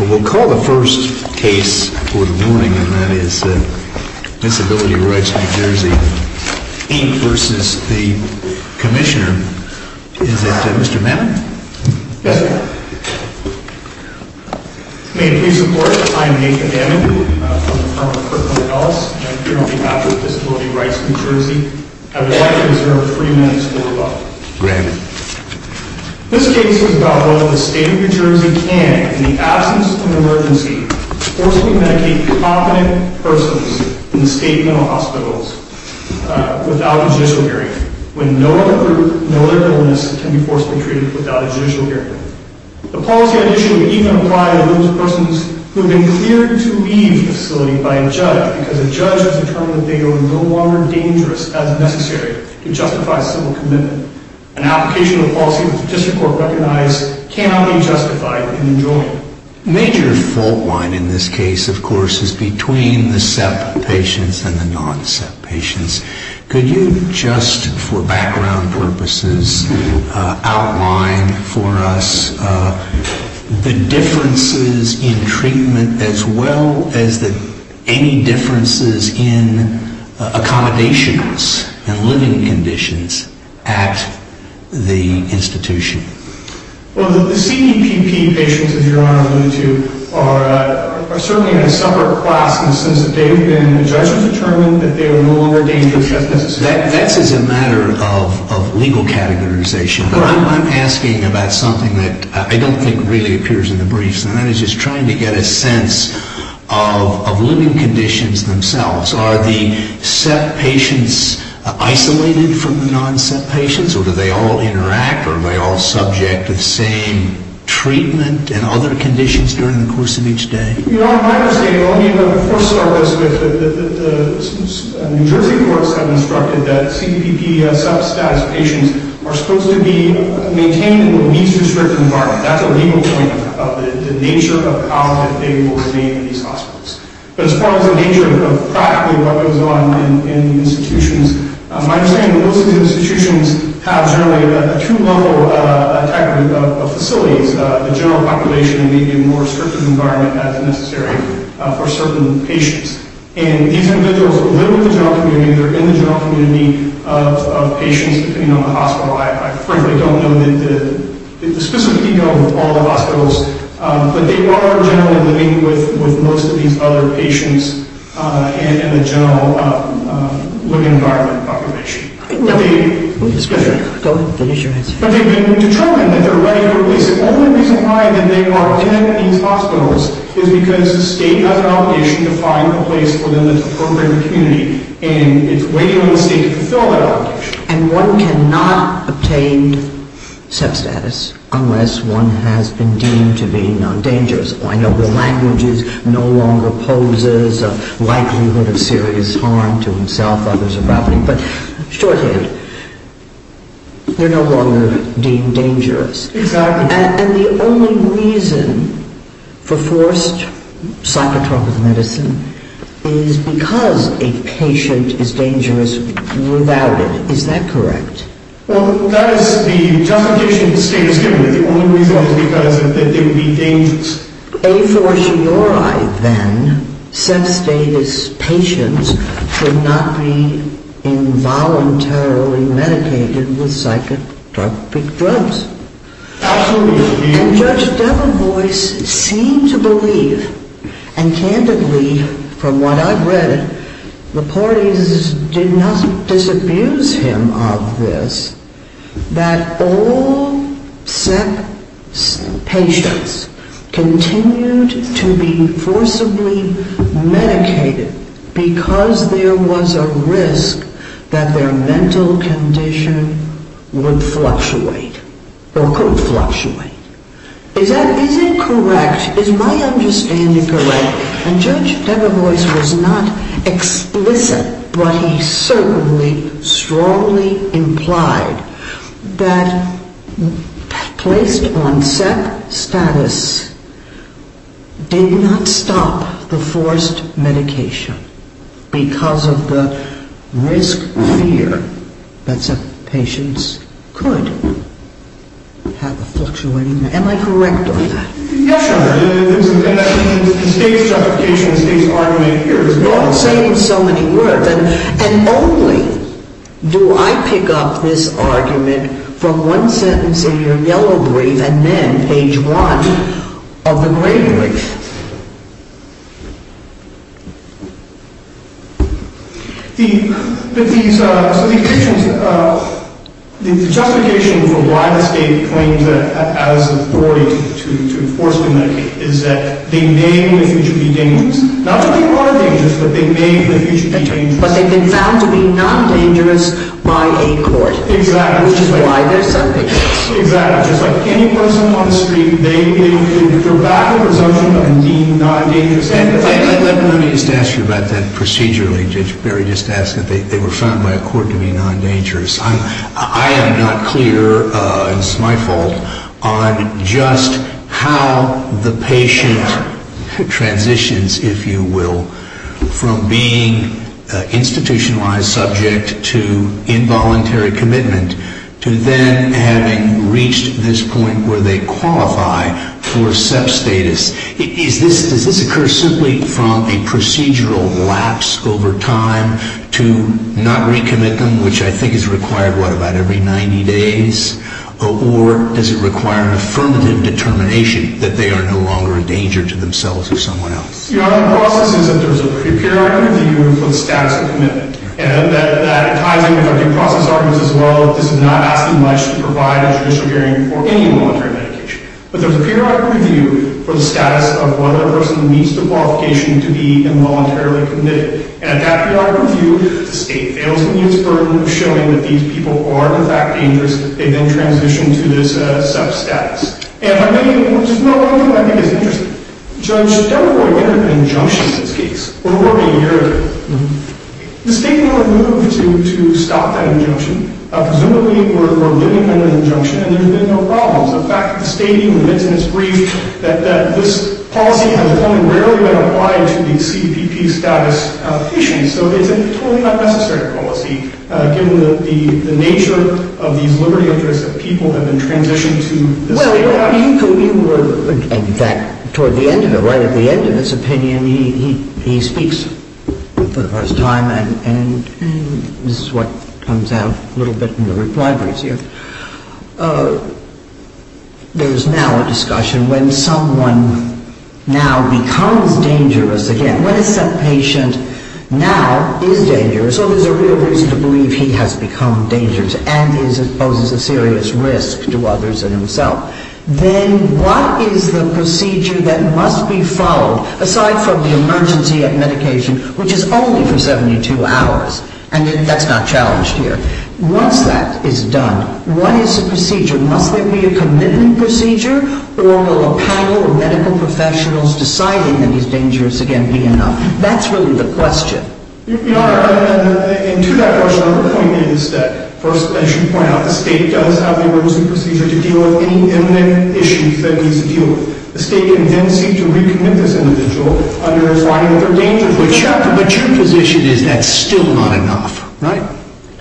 We'll call the first case for the morning, and that is Disability Rights NJ v. Commissioner NJ Is that Mr. Mamet? Yes, sir. May it please the Court, I am Nathan Mamet. I'm from the Department of Criminal Justice. I'm here on behalf of Disability Rights NJ. Granted. This case is about whether the State of New Jersey can, in the absence of an emergency, forcibly medicate competent persons in state mental hospitals without a judicial guarantee, when no other group, no other illness can be forcibly treated without a judicial guarantee. The policy on the issue would even apply to those persons who have been cleared to leave the facility by a judge, because a judge has determined that they are no longer dangerous as necessary to justify civil commitment. An application of the policy that the District Court recognized cannot be justified in New Jersey. A major fault line in this case, of course, is between the SEP patients and the non-SEP patients. Could you just, for background purposes, outline for us the differences in treatment, as well as any differences in accommodations and living conditions at the institution? Well, the SEP patients, as Your Honor alluded to, are certainly in a separate class, and since they've been, the judge has determined that they are no longer dangerous as necessary. That is a matter of legal categorization. But I'm asking about something that I don't think really appears in the briefs, and that is just trying to get a sense of living conditions themselves. Are the SEP patients isolated from the non-SEP patients, or do they all interact, or are they all subject to the same treatment and other conditions during the course of each day? Your Honor, my understanding, of course, starts with the New Jersey courts have instructed that CPP SEP status patients are supposed to be maintained in a means-restricted environment. That's a legal point of the nature of how that they will remain in these hospitals. But as far as the nature of practically what goes on in the institutions, my understanding is most of the institutions have generally a two-level type of facilities, the general population and maybe a more restricted environment as necessary for certain patients. And these individuals live in the general community, they're in the general community of patients, depending on the hospital. I frankly don't know the specific ego of all the hospitals, but they are generally living with most of these other patients in the general living environment population. But they've been determined that they're ready for release. The only reason why they are in these hospitals is because the state has an obligation to find a place for them that's appropriate in the community, and it's waiting on the state to fulfill that obligation. And one cannot obtain SEP status unless one has been deemed to be dangerous. I know the language is no longer poses a likelihood of serious harm to himself, others, or property, but shorthand, they're no longer deemed dangerous. And the only reason for forced psychotropic medicine is because a patient is dangerous without it, is that correct? Well, that is the justification the state has given me. The only reason is because they would be dangerous. A for Shiorai, then, SEP status patients could not be involuntarily medicated with psychotropic drugs. Absolutely. And Judge Debevoise seemed to believe, and candidly, from what I've read, the parties did not disabuse him of this, that all SEP patients continued to be forcibly medicated because there was a risk that their mental condition would fluctuate, or could fluctuate. Is that, is it correct? Is my understanding correct? And Judge Debevoise was not explicit, but he certainly strongly implied that placed on SEP status did not stop the forced medication because of the risk fear that SEP patients could have a fluctuating... Am I correct on that? Yes, sir. The state's justification, the state's argument here... You're saying so many words, and only do I pick up this argument from one sentence in your yellow brief and then page one of the gray brief. The justification for why the state claims as authority to enforce the medication is that they may in the future be dangerous. Not to be part of dangerous, but they may in the future be dangerous. But they've been found to be non-dangerous by a court. Exactly. Which is why they're subject to this. Exactly. Just like any person on the street, they could go back to presumption of being non-dangerous. Let me just ask you about that procedurally, Judge Berry. Just ask that they were found by a court to be non-dangerous. I am not clear, and it's my fault, on just how the patient transitions, if you will, from being institutionalized subject to involuntary commitment to then having reached this point where they qualify for SEP status. Does this occur simply from a procedural lapse over time to not recommit them, which I think is required, what, about every 90 days? Or does it require an affirmative determination that they are no longer a danger to themselves or someone else? The process is that there's a periodic review for the status of commitment. And that ties in with our due process arguments as well. This is not asking much to provide a judicial hearing for any voluntary medication. But there's a periodic review for the status of whether a person meets the qualification to be involuntarily committed. And at that periodic review, the state fails to use the burden of showing that these people are, in fact, dangerous. They then transition to this SEP status. And just one other thing I think is interesting. Judge Delacroix entered an injunction in this case over a year ago. The state never moved to stop that injunction. Presumably, we're living under the injunction, and there have been no problems. In fact, the state even admits in its brief that this policy has only rarely been applied to the CPP status of patients. So it's a totally unnecessary policy, given the nature of these liberty interests of people who have been transitioned to this SEP status. Well, you were, in fact, toward the end of it, right? At the end of his opinion, he speaks for the first time, and this is what comes out a little bit in the reply briefs here. There's now a discussion when someone now becomes dangerous again. When a SEP patient now is dangerous, so there's a real reason to believe he has become dangerous and poses a serious risk to others and himself, then what is the procedure that must be followed, aside from the emergency at medication, which is only for 72 hours, and that's not challenged here. Once that is done, what is the procedure? Must there be a commitment procedure, or will a panel of medical professionals deciding that he's dangerous again be enough? That's really the question. And to that question, the point is that, first, as you point out, the state does have the emergency procedure to deal with any imminent issues that it needs to deal with. The state can then seek to recommit this individual under a fine or third danger. But your position is that's still not enough, right?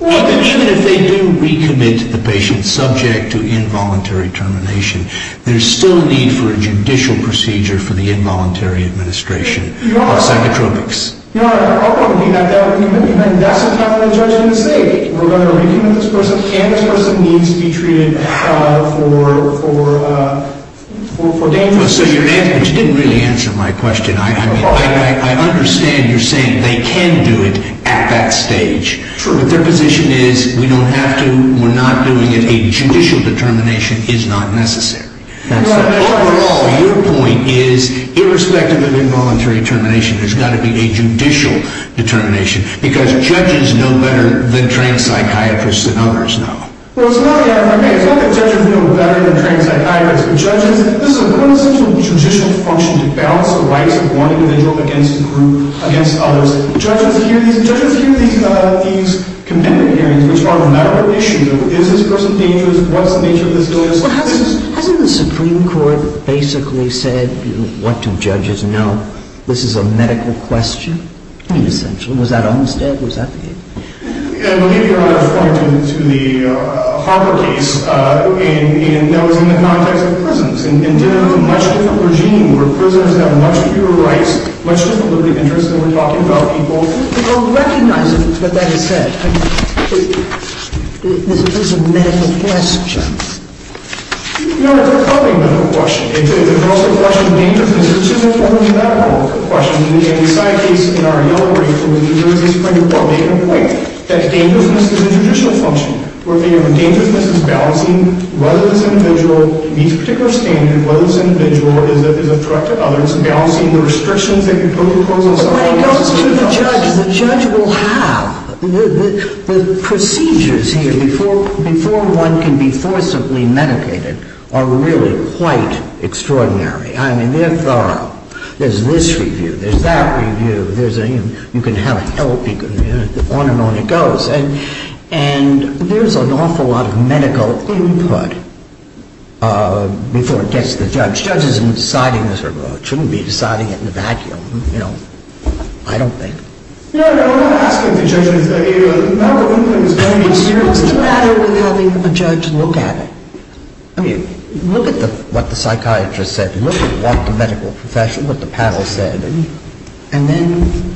Even if they do recommit the patient subject to involuntary termination, there's still a need for a judicial procedure for the involuntary administration of psychotropics. Yeah, that would be a commitment. That's what happened to the judge in the state. We're going to recommit this person, and this person needs to be treated for danger. But you didn't really answer my question. I understand you're saying they can do it at that stage, but their position is we don't have to, we're not doing it, a judicial determination is not necessary. Overall, your point is, irrespective of involuntary termination, there's got to be a judicial determination, because judges know better than trained psychiatrists and others know. Well, it's not that judges know better than trained psychiatrists. Judges, this is a quintessential judicial function to balance the rights of one individual against others. Judges hear these committment hearings, which are a matter of issue. Is this person dangerous? What's the nature of this illness? Hasn't the Supreme Court basically said, what do judges know? This is a medical question, essentially. Was that understood? Was that the case? I believe you're referring to the Harper case, and that was in the context of prisons, and there was a much different regime where prisoners had much fewer rights, much different liberty interests than we're talking about people. I don't recognize what that has said. This is a medical question. No, it's a public medical question. It's also a question of dangerousness. This is a public medical question. In the anti-psych case, in our yellow brief, there was a Supreme Court making a point that dangerousness is a judicial function. We're thinking of dangerousness as balancing whether this individual meets a particular standard, whether this individual is a threat to others, balancing the restrictions they can impose on someone else. But when it comes to the judge, the judge will have. The procedures here before one can be forcibly medicated are really quite extraordinary. I mean, they're thorough. There's this review. There's that review. You can have help. On and on it goes. And there's an awful lot of medical input before it gets to the judge. The judge isn't deciding this, or shouldn't be deciding it in a vacuum, you know. I don't think. No, no. I'm not asking if the judge is a medical input. It's very serious. What's the matter with having a judge look at it? I mean, look at what the psychiatrist said. Look at what the medical professional, what the panel said. And then.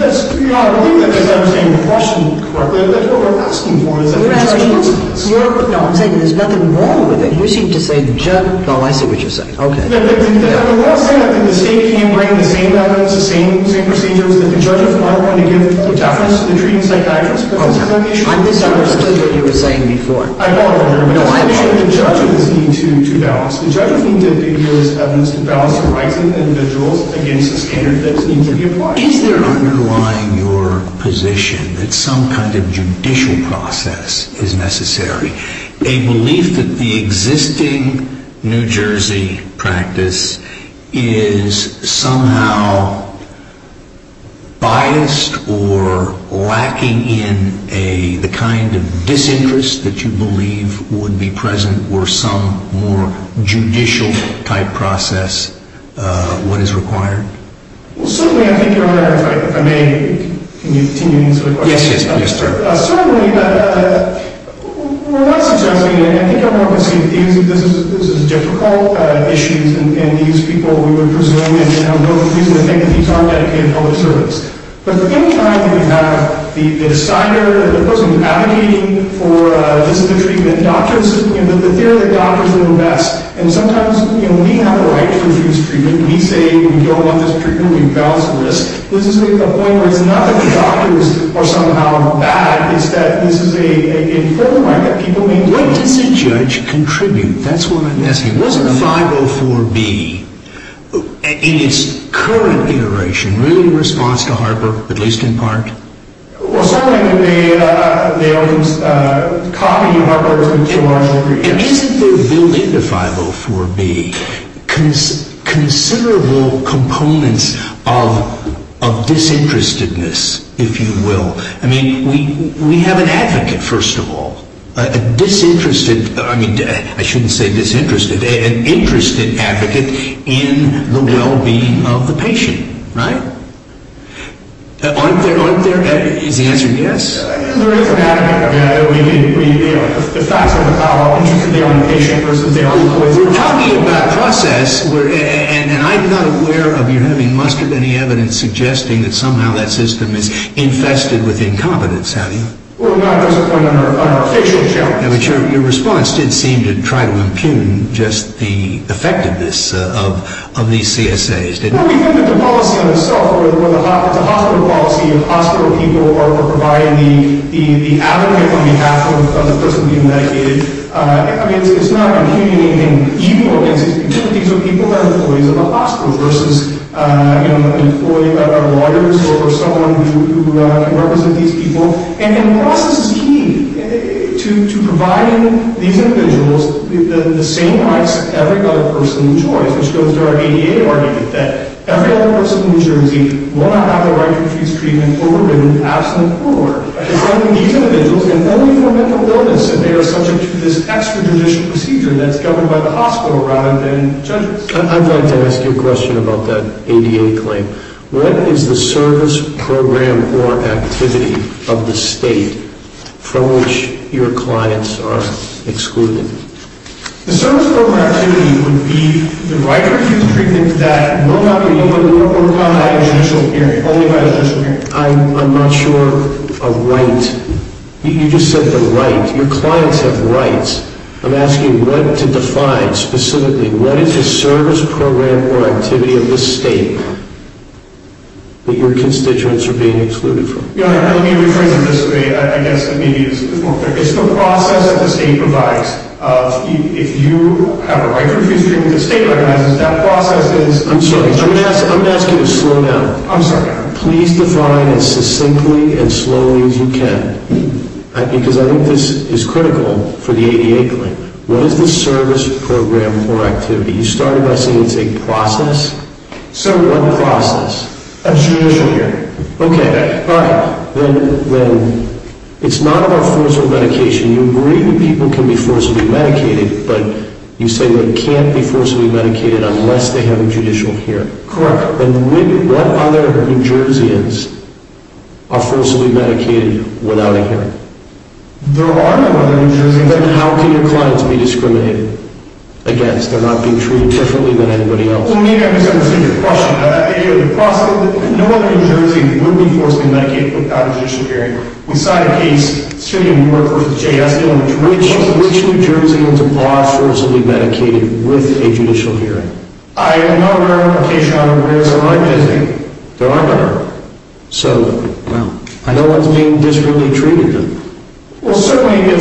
That's, you know, I don't think I understand the question correctly. I think what we're asking for is that the judge looks at this. No, I'm saying there's nothing wrong with it. You seem to say the judge. No, I see what you're saying. Okay. The state can't bring the same evidence, the same procedures, that the judges aren't going to give preference to the treating psychiatrist. But that's not the issue. I misunderstood what you were saying before. I'm all for it. No, I'm sure the judges need to balance. The judges need to give those evidence to balance the rights of the individuals against the standards that need to be applied. Is there underlying your position that some kind of judicial process is necessary? A belief that the existing New Jersey practice is somehow biased or lacking in the kind of disinterest that you believe would be present were some more judicial-type process what is required? Well, certainly I think you're on the right track. If I may, can you continue to answer the question? Yes, yes, please, sir. Certainly, we're not suggesting, and I think everyone can see that this is a difficult issue, and these people, we would presume, and there's no reason to think that these aren't dedicated public servants. But any time you have the decider, the person advocating for this is the treatment, doctors, the theory that doctors are the best, and sometimes we have a right to refuse treatment. We say we don't want this treatment. We balance the risk. This is the point where it's not that the doctors are somehow bad. It's that this is a full right that people may want. What does a judge contribute? That's what I'm asking. Wasn't 504B, in its current iteration, really a response to Harper, at least in part? Well, certainly, they copied Harper. And isn't there, built into 504B, considerable components of disinterestedness, if you will? I mean, we have an advocate, first of all, a disinterested, I mean, I shouldn't say disinterested, an interested advocate in the well-being of the patient, right? Aren't there, aren't there, is the answer yes? There is an advocate. I mean, we, you know, We're talking about a process, and I'm not aware of you having mustered any evidence suggesting that somehow that system is infested with incompetence, have you? Well, no, there's a point on our official challenge. But your response did seem to try to impugn just the effectiveness of these CSAs, didn't it? Well, we think that the policy on itself, where the hospital policy of hospital people are providing the advocate on behalf of the person being medicated, I mean, it's not impugning anything evil against these people. These are people that are employees of a hospital versus, you know, an employee of a lawyer's or someone who can represent these people. And the process is key to providing these individuals the same rights as every other person in New Jersey, which goes to our ADA argument that every other person in New Jersey will not have the right to refuse treatment until they've been proven absolutely poor. It's only for mental illness that they are subject to this extrajudicial procedure that's governed by the hospital rather than judges. I'd like to ask you a question about that ADA claim. What is the service program or activity of the state from which your clients are excluded? The service program activity would be the right to refuse treatment that will not be able to work on at a judicial hearing, only by a judicial hearing. I'm not sure a right... You just said the right. Your clients have rights. I'm asking what to define specifically. What is the service program or activity of the state that your constituents are being excluded from? Let me rephrase it this way. I guess maybe it's more clear. It's the process that the state provides. If you have a right to refuse treatment that the state recognizes, that process is... I'm sorry, I'm going to ask you to slow down. I'm sorry. Please define as succinctly and slowly as you can. Because I think this is critical for the ADA claim. What is the service program or activity? You started by saying it's a process. So... What process? A judicial hearing. Okay. All right. Then it's not about forcible medication. You agree that people can be forcibly medicated, but you say they can't be forcibly medicated unless they have a judicial hearing. Correct. Then what other New Jerseyans are forcibly medicated without a hearing? There are no other New Jerseyans. Then how can your clients be discriminated against? They're not being treated differently than anybody else. Well, maybe I misunderstood your question. No other New Jerseyans would be forcibly medicated without a judicial hearing. We signed a case, Syrian War v. JSTO... Which New Jerseyans are forcibly medicated with a judicial hearing? I am not aware of a case where there aren't visiting. There are not. So... I know it's being discretely treated. Well, certainly if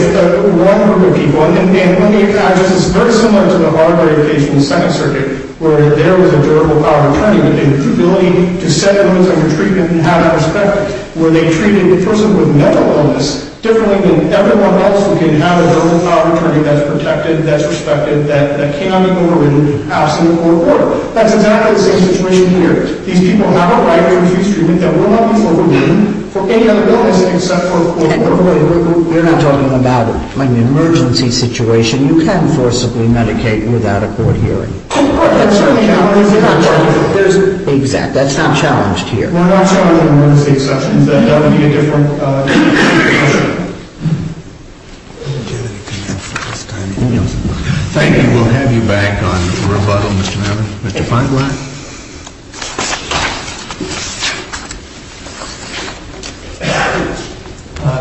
one group of people... And let me address this. It's very similar to the Harvard case in the Second Circuit where there was a durable power attorney with the ability to set limits on your treatment and have it respected, where they treated the person with mental illness differently than everyone else who can have a durable power attorney that's protected, that's respected, that cannot be overridden, absent a court order. That's exactly the same situation here. These people have a right to refuse treatment that will not be overridden for any other illness except for a court order. And by the way, we're not talking about an emergency situation. You can't forcibly medicate without a court hearing. Oh, of course. That's not a challenge. There's... Exactly. That's not challenged here. We're not challenging emergency exceptions. That would be a different discussion. I'll let Janet come in for this time. Thank you. We'll have you back on rebuttal, Mr. Mabern. Mr. Feinstein.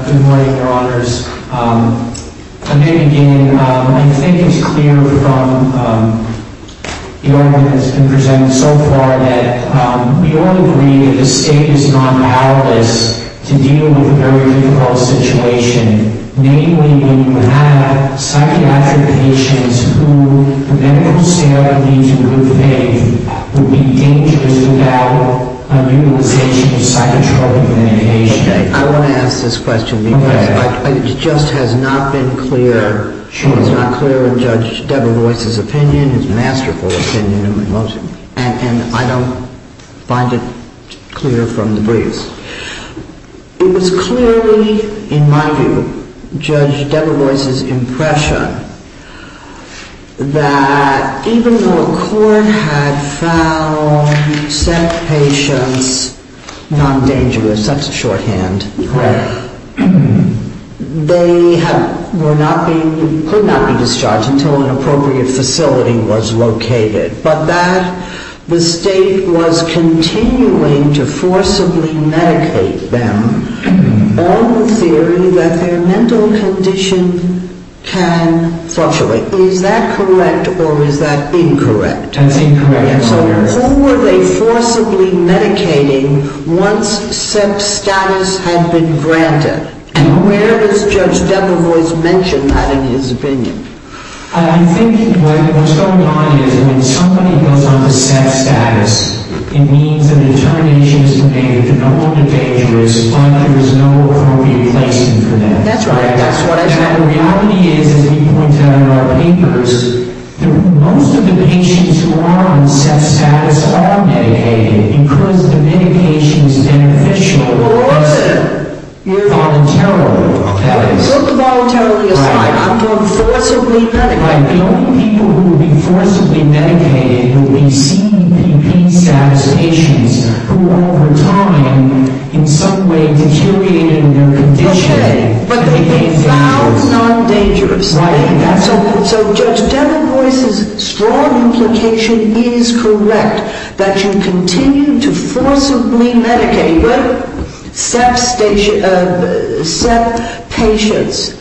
Good morning, Your Honors. Again, I think it's clear from the argument that's been presented so far that we all agree that the state is not powerless to deal with a very difficult situation, mainly when you have psychiatric patients who, from medical standpoint, to good faith, would be dangerous without a utilization of psychotropic medication. I want to ask this question because it just has not been clear. It's not clear in Judge Deborah Royce's opinion, his masterful opinion, and I don't find it clear from the briefs. It was clearly, in my view, Judge Deborah Royce's impression that even though a court had found set patients not dangerous, that's a shorthand, correct, they were not being... could not be discharged until an appropriate facility was located, but that the state was continuing to forcibly medicate them on the theory that their mental condition can fluctuate. Is that correct or is that incorrect? That's incorrect, Your Honors. So who were they forcibly medicating once set status had been granted? And where does Judge Deborah Royce mention that in his opinion? I think what's going on is when somebody goes on to set status, it means that the determination has been made that no one is dangerous, but there is no appropriate place for them. That's right. And the reality is, as you pointed out in our papers, most of the patients who are on set status are medicated because the medication is beneficial. But what is it? Voluntarily, that is. I'm talking forcibly medicated. The only people who would be forcibly medicated would be CPP set patients who over time in some way deteriorated their condition. Okay, but they've been found non-dangerous. Right. So Judge Deborah Royce's strong implication is correct that you continue to forcibly medicate, set patients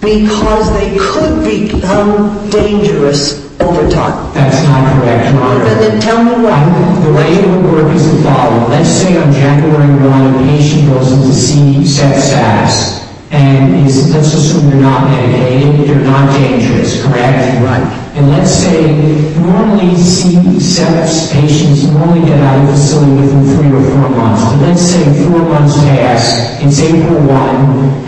because they could become dangerous over time. That's not correct, Your Honor. Then tell me why. The way it would work is the following. Let's say on January 1 a patient goes in to see set status, and let's assume they're not medicated, they're not dangerous, correct? Right. And let's say you only see set patients, you only get out of the facility within three or four months. But let's say four months pass, it's April 1,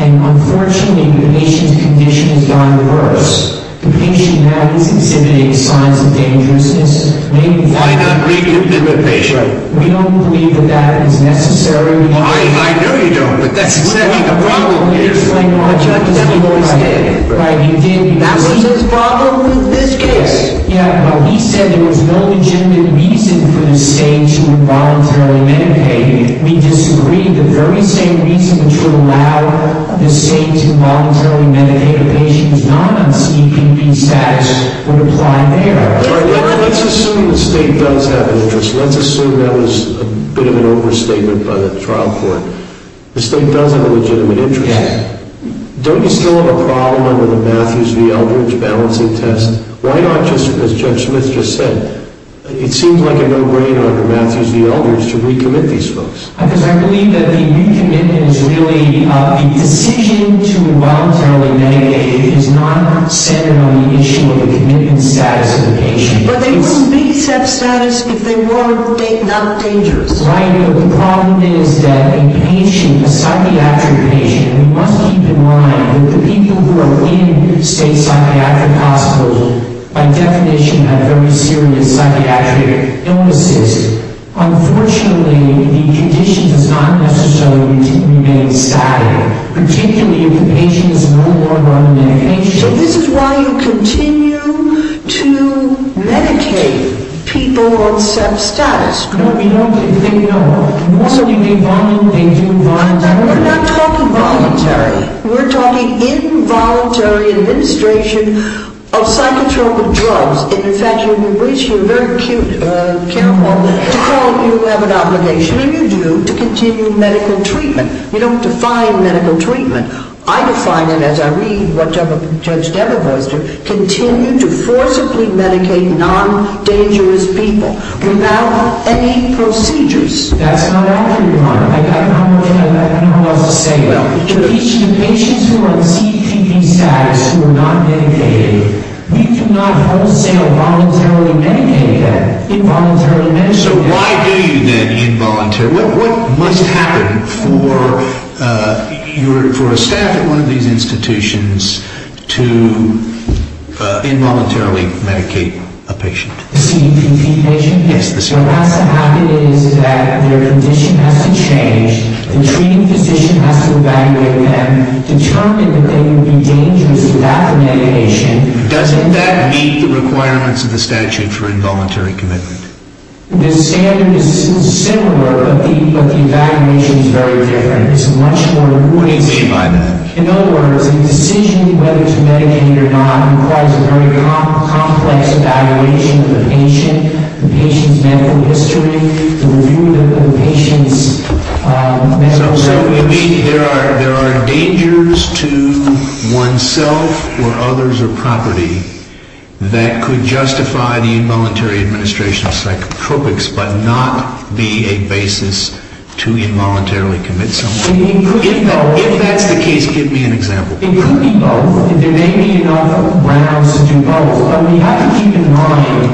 and unfortunately the patient's condition has gone worse. The patient now is exhibiting signs of dangerousness. Why not re-condemn the patient? We don't believe that that is necessary. I know you don't, but that's exactly the problem here. Judge Deborah Royce did. That's his problem with this case. He said there was no legitimate reason for the state to voluntarily medicate. We disagree. The very same reason to allow the state to voluntarily medicate a patient is not on the CPB status that would apply there. Let's assume the state does have an interest. Let's assume that was a bit of an overstatement by the trial court. The state does have a legitimate interest. Don't you still have a problem under the Matthews v. Eldridge balancing test? Why not just, as Judge Smith just said, it seems like a no-brainer under Matthews v. Eldridge to recommit these folks? Because I believe that the recommitment is really the decision to voluntarily medicate is not centered on the issue of the commitment status of the patient. But they wouldn't be set status if they were not dangerous, right? The problem is that a patient, a psychiatric patient, we must keep in mind that the people who are in state psychiatric hospitals by definition have very serious psychiatric illnesses. Unfortunately, the condition does not necessarily remain static, particularly if the patient is no longer on medication. So this is why you continue to medicate people on set status. No, we don't. They know. Also, they do volunteer. We're not talking voluntary. We're talking involuntary administration of psychotropic drugs. In fact, you're very cute, careful to call it you have an obligation, and you do, to continue medical treatment. You don't define medical treatment. I define it as I read what Judge Debevoise did, continue to forcibly medicate non-dangerous people without any procedures. That's not all, Your Honor. I don't know what else to say. The patients who are in CPP status who are not medicated, we do not wholesale voluntarily medicate them. Involuntary medication. So why do you then involuntarily? What must happen for a staff at one of these institutions to involuntarily medicate a patient? The CPP patient? Yes, the CPP. What has to happen is that their condition has to change. The treating physician has to evaluate them, determine that they would be dangerous without the medication. Doesn't that meet the requirements of the statute for involuntary commitment? The standard is similar, but the evaluation is very different. It's much more... What do you mean by that? In other words, a decision whether to medicate or not requires a very complex evaluation of the patient, the patient's medical history, the review of the patient's medical records. So you mean there are dangers to oneself or others or property that could justify the involuntary administration of psychotropics but not be a basis to involuntarily commit something? It could be both. If that's the case, give me an example. It could be both, and there may be enough grounds to do both, but we have to keep in mind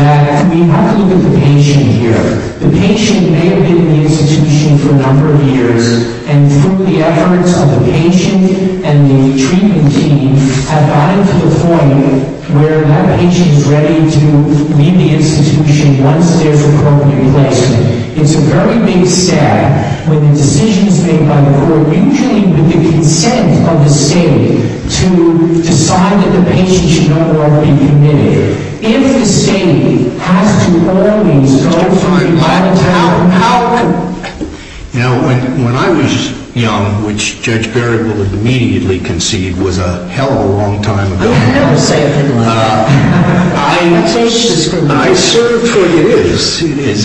that we have to look at the patient here. The patient may have been in the institution for a number of years, and through the efforts of the patient and the treatment team have gotten to the point where that patient is ready to leave the institution once they're for permanent placement. It's a very big step when the decision is made by the court, usually with the consent of the state, to decide that the patient should no longer be committed. If the state has to always go through that, how can... You know, when I was young, which Judge Berry will immediately concede was a hell of a long time ago. I never say a thing like that. I serve for years,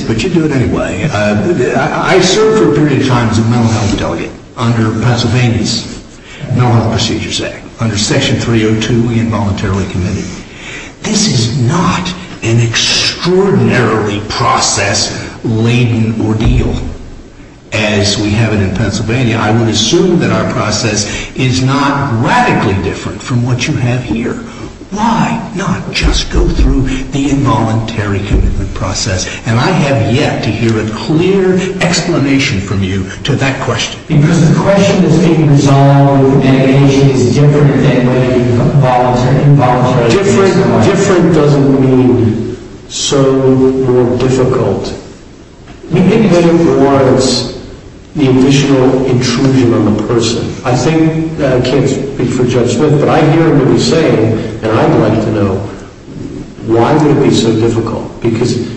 but you do it anyway. I served for a period of time as a mental health delegate under Pennsylvania's Mental Health Procedures Act, under Section 302, involuntarily committed. This is not an extraordinarily process-laden ordeal as we have it in Pennsylvania. I would assume that our process is not radically different from what you have here. Why not just go through the involuntary commitment process? And I have yet to hear a clear explanation from you to that question. Because the question is being resolved, and the patient is different than the involuntary commitment process. Different doesn't mean so more difficult. You can take it more as the additional intrusion on the person. I think that I can't speak for Judge Smith, but I hear him saying, and I'd like to know, why would it be so difficult? Because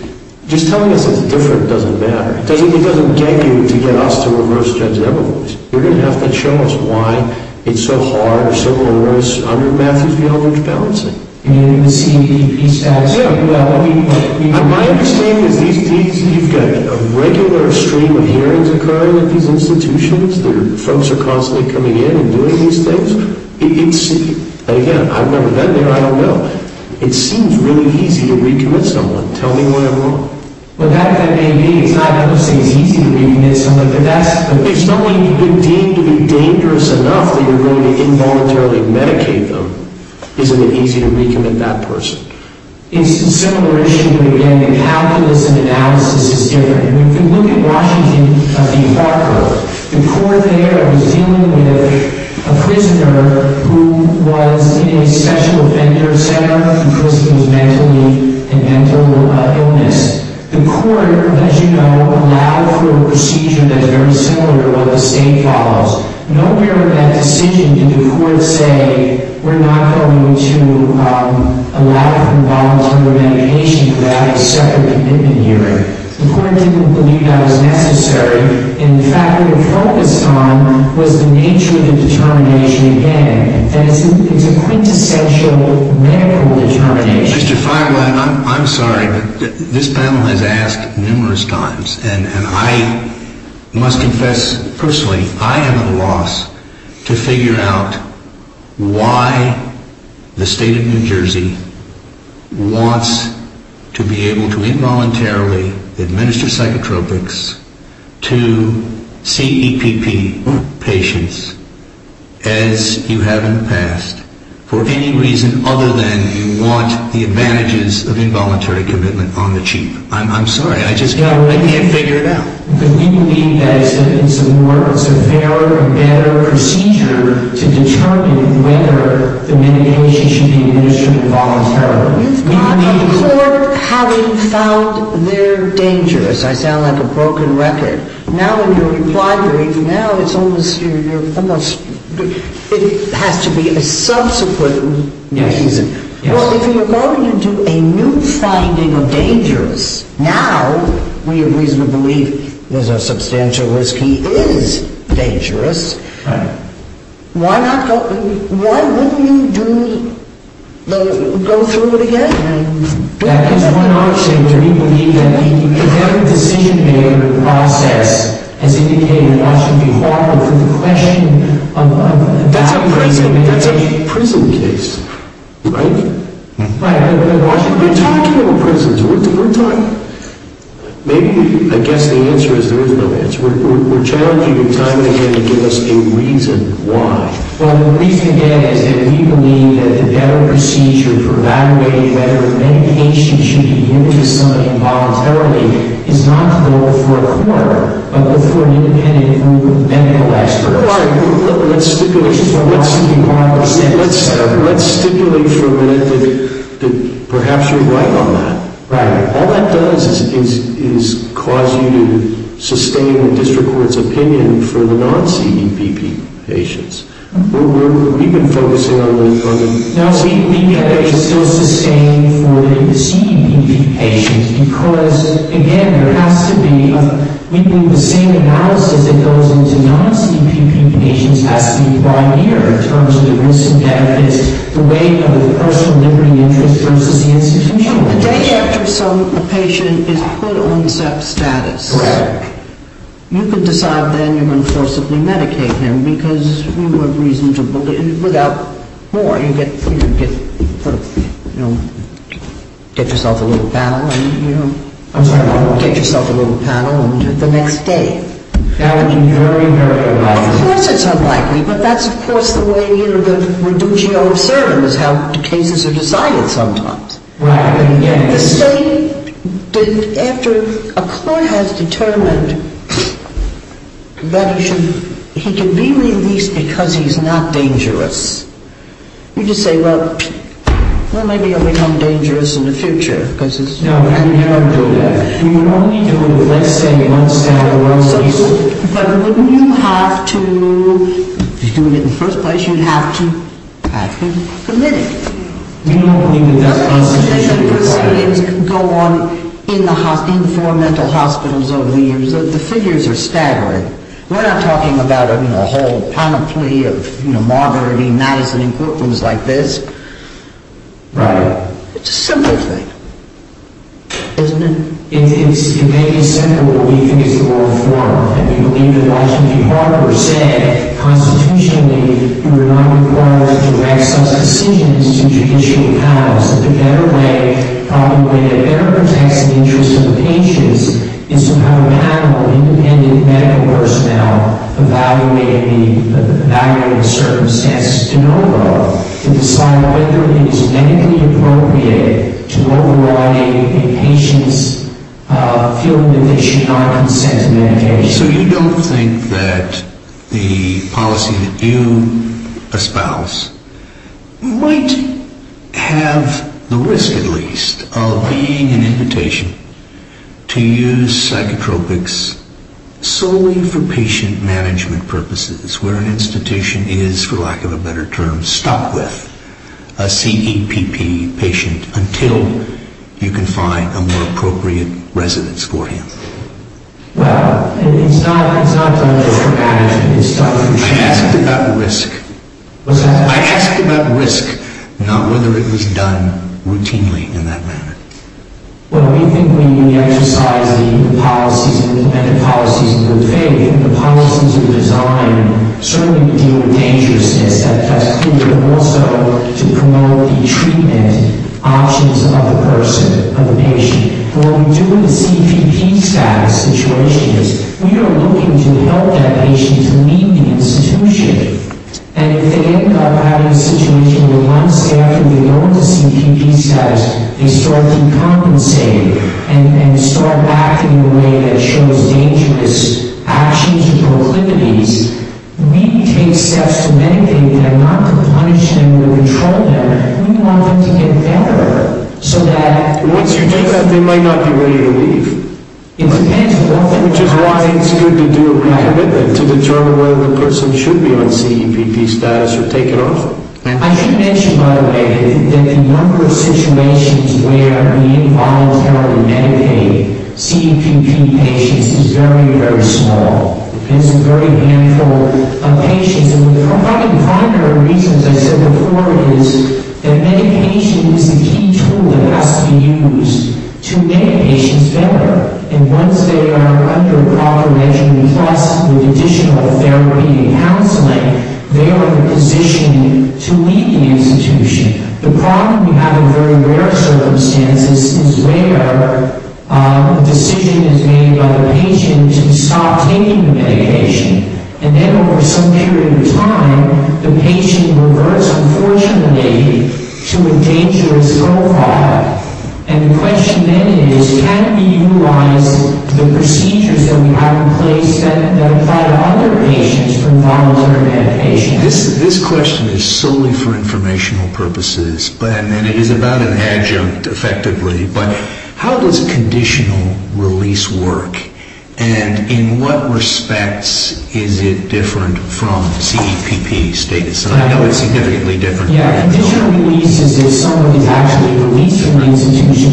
just telling us it's different doesn't matter. It doesn't get you to get us to reverse Judge Eberholtz. You're going to have to show us why it's so hard, or so onerous, under Matthews-Villalooge balancing. You mean in the CEP status? Yeah, well, my understanding is you've got a regular stream of hearings occurring at these institutions. Folks are constantly coming in and doing these things. Again, I've never been there, I don't know. It seems really easy to recommit someone. Tell me what I'm wrong. Well, that may be. It's not that it seems easy to recommit someone, but that's It's not deemed to be dangerous enough that you're going to involuntarily medicate them. Isn't it easy to recommit that person? It's a similar issue, but again, the calculus and analysis is different. If you look at Washington v. Parker, the court there was dealing with a prisoner who was in a sexual offender center because he was mentally ill. The court, as you know, allowed for a procedure that is very similar to what the state follows. Nowhere in that decision did the court say, we're not going to allow for involuntary recommendation without a separate commitment hearing. The court didn't believe that was necessary. And the fact that it focused on was the nature of the determination again, that it's a quintessential medical determination. Mr. Feiglin, I'm sorry, but this panel has asked numerous times, and I must confess personally, I am at a loss to figure out why the state of New Jersey wants to be able to involuntarily administer psychotropics to CEPP patients as you have in the past, for any reason other than you want the advantages of involuntary commitment on the cheap. I'm sorry, I just can't figure it out. But we believe that it's a more severe and better procedure to determine whether the medication should be administered voluntarily. You've got a court having found their dangerous. I sound like a broken record. Now in your reply brief, now it's almost, it has to be a subsequent decision. Well, if you're going to do a new finding of dangerous, now we have reason to believe there's a substantial risk he is dangerous. Why wouldn't you go through it again? That is one option. Do we believe that the decision-making process has indicated that Washington should be harmful to the question of... That's a prison case. That's a prison case, right? Right. We're talking about prisons. Maybe, I guess the answer is there is no answer. We're challenging you time and again to give us a reason why. Well, the reason again is that we believe that the better procedure for evaluating whether the medication should be given to somebody voluntarily is not to go before a court, but before an independent group of medical experts. Let's stipulate for a minute that perhaps you're right on that. Right. All that does is cause you to sustain the district court's opinion for the non-CEPP patients. We've been focusing on the... No, we believe that they should still sustain for the CEPP patients because, again, there has to be... We believe the same analysis that goes into non-CEPP patients has to be primary in terms of the risks and benefits, the weight of the personal liberty interest versus the institutional interest. And the day after a patient is put on CEPP status... Correct. ...you can decide then you're going to forcibly medicate him because we would reason to believe... Without more, you could get yourself a little panel... I'm sorry, what? Get yourself a little panel the next day. Of course it's unlikely, but that's, of course, that's the way that we do geo-observe and that's how cases are decided sometimes. Right, and yet... The state, after a court has determined that he should... he can be released because he's not dangerous, you just say, well, maybe he'll become dangerous in the future because it's... No, we would never do that. We would only do it, let's say, once a month at least. But wouldn't you have to, if you're doing it in the first place, you'd have to have him committed. We don't believe that that's constitutionally required. Nothing that proceeds can go on in the four mental hospitals over the years. The figures are staggering. We're not talking about a whole panoply of, you know, Margaret E. Madison and courtrooms like this. Right. It's a simple thing, isn't it? It may be simple, but we think it's the law of form. And we believe that Washington, D.C. Harper said, constitutionally, you are not required to make such decisions in judicial panels. The better way, probably the way that better protects the interests of the patients is to have a panel of independent medical personnel evaluating the circumstances to know, though, to decide whether it is medically appropriate to override a patient's field of vision or consent to medication. So you don't think that the policy that you espouse might have the risk, at least, of being an invitation to use psychotropics solely for patient management purposes, where an institution is, for lack of a better term, stuck with a CEPP patient until you can find a more appropriate residence for him? Well, it's not done for management. I asked about risk. I asked about risk, not whether it was done routinely in that manner. Well, we think when we exercise the policies and the policies of the faith, and the policies of the design, certainly we deal with dangerousness. That's clear. But also to promote the treatment options of the person, of the patient. What we do with the CPP status situation is we are looking to help that patient to meet the institution. And if they end up having a situation where one staffer will go into CPP status, they start to compensate and start acting in a way that shows dangerous actions and proclivities, we take steps to medicate them, not to punish them or control them. We want them to get better so that... Once you do that, they might not be ready to leave. It depends what the policy... Which is why it's good to do a recommitment to determine whether the person should be on CPP status or take it off. I should mention, by the way, that the number of situations where we involuntarily medicate CPP patients is very, very small. It's a very handful of patients. And one of the primary reasons I said before is that medication is a key tool that has to be used to make patients better. And once they are under proper measurement plus with additional therapy and counseling, they are in a position to leave the institution. The problem we have in very rare circumstances is where a decision is made by the patient to stop taking the medication. And then over some period of time, the patient reverts, unfortunately, to a dangerous low fall. And the question then is, can we utilize the procedures that we have in place that apply to other patients for involuntary medication? This question is solely for informational purposes. And it is about an adjunct, effectively. But how does conditional release work? And in what respects is it different from CPP status? I know it's significantly different. Conditional release is if someone is actually released from the institution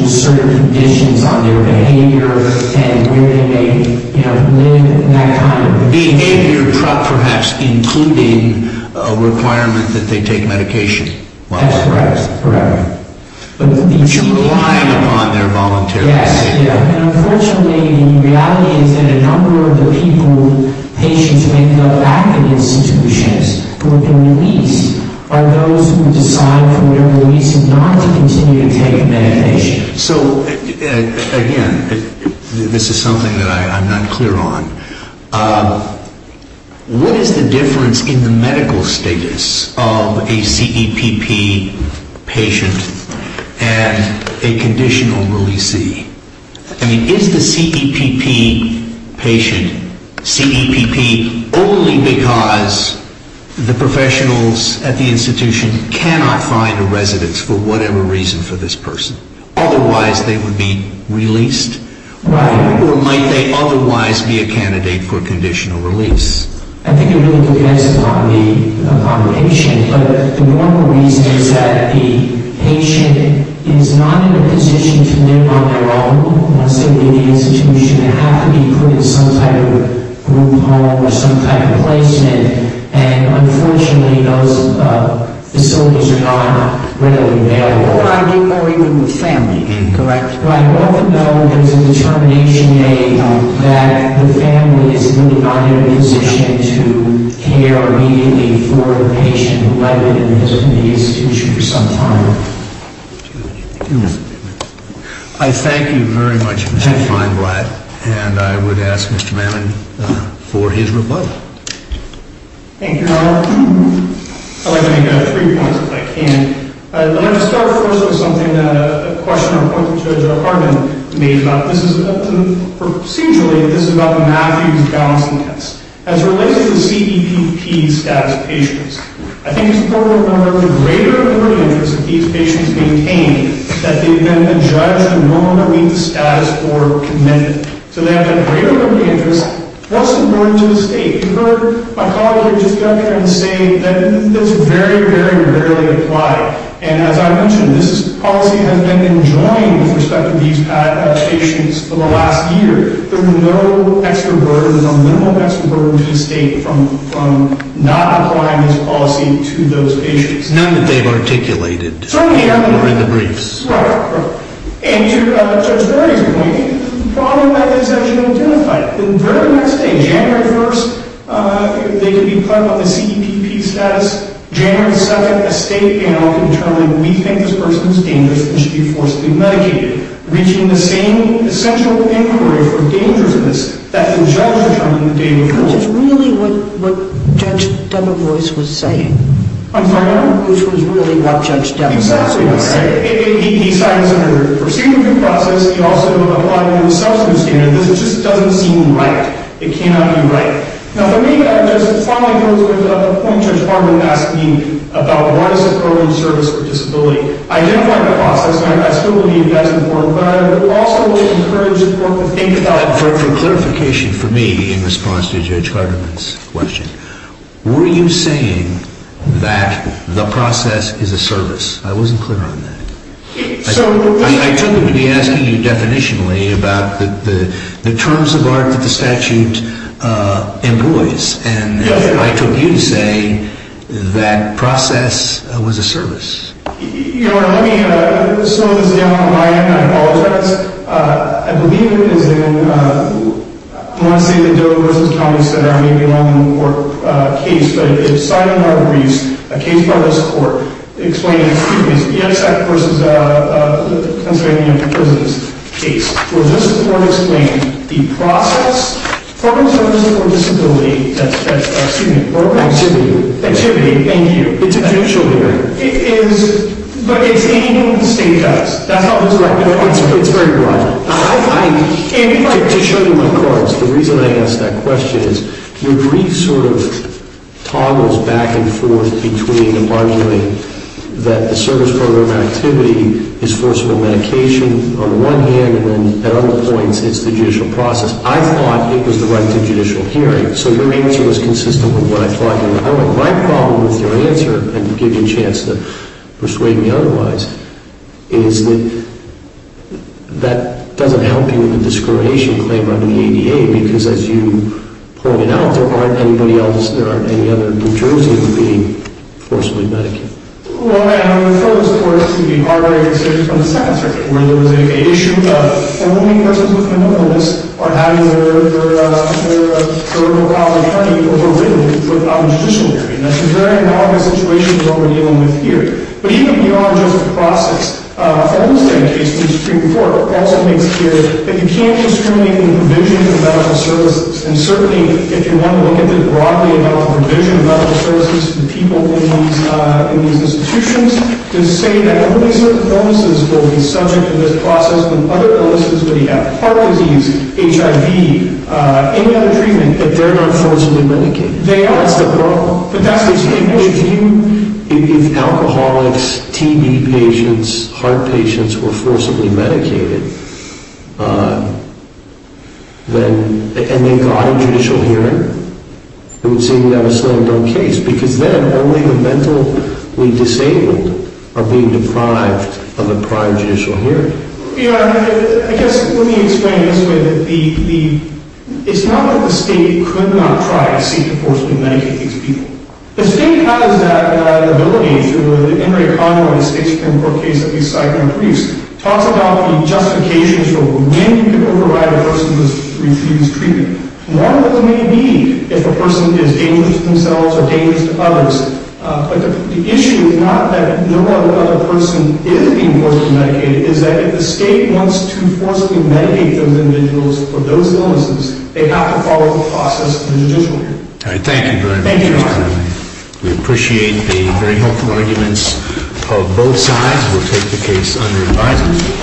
on their behavior and where they may live and that kind of thing. Behavior, perhaps, including a requirement that they take medication. That's correct, correct. But you're relying upon their volunteerism. Yes. And unfortunately, the reality is that a number of the people, patients who may go back to institutions who have been released are those who decide from their release not to continue to take medication. So, again, this is something that I'm not clear on. What is the difference in the medical status of a CEPP patient and a conditional releasee? I mean, is the CEPP patient CEPP only because the professionals at the institution cannot find a residence for whatever reason for this person? Otherwise, they would be released? Right. Or might they otherwise be a candidate for conditional release? I think it really depends upon the patient. But the normal reason is that the patient is not in a position to live on their own unless they leave the institution. They have to be put in some type of group home or some type of placement. And unfortunately, those facilities are not readily available. Or even with family, correct? Right. Although there's a determination made that the family is not in a position to care immediately for the patient who might be in the institution for some time. I thank you very much, Mr. Feinblatt. And I would ask Mr. Manning for his reply. Thank you, Your Honor. I'd like to make three points, if I can. I'd like to start first with something that a questioner pointed to, Joe Harbin, made about this. Procedurally, this is about the Matthews-Gonzalez test. As it relates to the CEPP status of patients, I think it's important to remember that the greater important interest of these patients is to maintain that they've been judged to normally meet the status or commitment. So they have that greater important interest. What's important to the state? You heard my colleague here just got here and say that it's very, very rarely applied. And as I mentioned, this policy has been enjoined with respect to these patients for the last year. There is no extra burden, there's a minimal extra burden to the state from not applying this policy to those patients. None that they've articulated or in the briefs. Right, right. And to Judge Berry's point, the problem is that it's actually identified. The very next day, January 1st, they can be put on the CEPP status. January 2nd, a state panel can determine, we think this person is dangerous and should be forcibly medicated. Reaching the same essential inquiry for dangerousness that the judge determined the day before. Which is really what Judge Debevoise was saying. I'm sorry? Which was really what Judge Debevoise was saying. Exactly right. He signed this under the procedure due process. He also applied it under the substance standard. This just doesn't seem right. It cannot be right. Now for me, I just want to go to the point Judge Harmon asked me about. What is a program of service for disability? Identify the process. And I still believe that's important. But I would also encourage the court to think about it. For clarification, for me, in response to Judge Hardiman's question. Were you saying that the process is a service? I wasn't clear on that. I took it to be asking you definitionally about the terms of art that the statute employs. And I took you to say that process was a service. Your Honor, let me slow this down on my end. I apologize. I believe it is in, I don't want to say the Dover versus County Center. I may be wrong on the court case. But it's signed under our briefs. A case filed in this court. Explaining, excuse me, the ESF versus Pennsylvania prisons case. For this court to explain the process. Programs of service for disability. That's, excuse me. Activity. Activity, thank you. It's a judicial hearing. But it's anything that the state does. That's not the correct answer. It's very broad. To show you my cards. The reason I asked that question is your brief sort of toggles back and forth between arguing that the service program activity is forcible medication on the one hand. And then at other points, it's the judicial process. I thought it was the right to judicial hearing. So your answer was consistent with what I thought you were doing. My problem with your answer, and I'll give you a chance to persuade me otherwise, is that that doesn't help you with the discrimination claim under the ADA. Because as you pointed out, there aren't any other jurors here who are being forcibly medicated. Well, I refer, of course, to the Harvard case from the Second Circuit. Where there was an issue of only persons with mental illness are having their on the judicial hearing. That's a very analogous situation to what we're dealing with here. But even beyond just the process, the Holmes case, the Supreme Court, also makes clear that you can't discriminate in provision of medical services. And certainly, if you want to look at this broadly about the provision of medical services to people in these institutions, to say that only certain illnesses will be subject to this process. And other illnesses, whether you have heart disease, HIV, any other treatment, that they're not forcibly medicated. They are. But that's the issue. If alcoholics, TB patients, heart patients were forcibly medicated, and they got a judicial hearing, it would seem that was a slow and dumb case. Because then, only the mentally disabled are being deprived of a prior judicial hearing. I guess, let me explain this with the... It's not that the state could not try to seek to forcibly medicate these people. The state has that ability through the Henry Conway state Supreme Court case that we cite in the briefs. Talks about the justifications for when you can override a person who has refused treatment. One of those may be if a person is dangerous to themselves or dangerous to others. But the issue is not that no other person is being forcibly medicated. It's that if the state wants to forcibly medicate those individuals for those illnesses, they have to follow the process of the judicial hearing. Thank you very much. Thank you, Your Honor. We appreciate the very hopeful arguments of both sides. We'll take the case under advisement.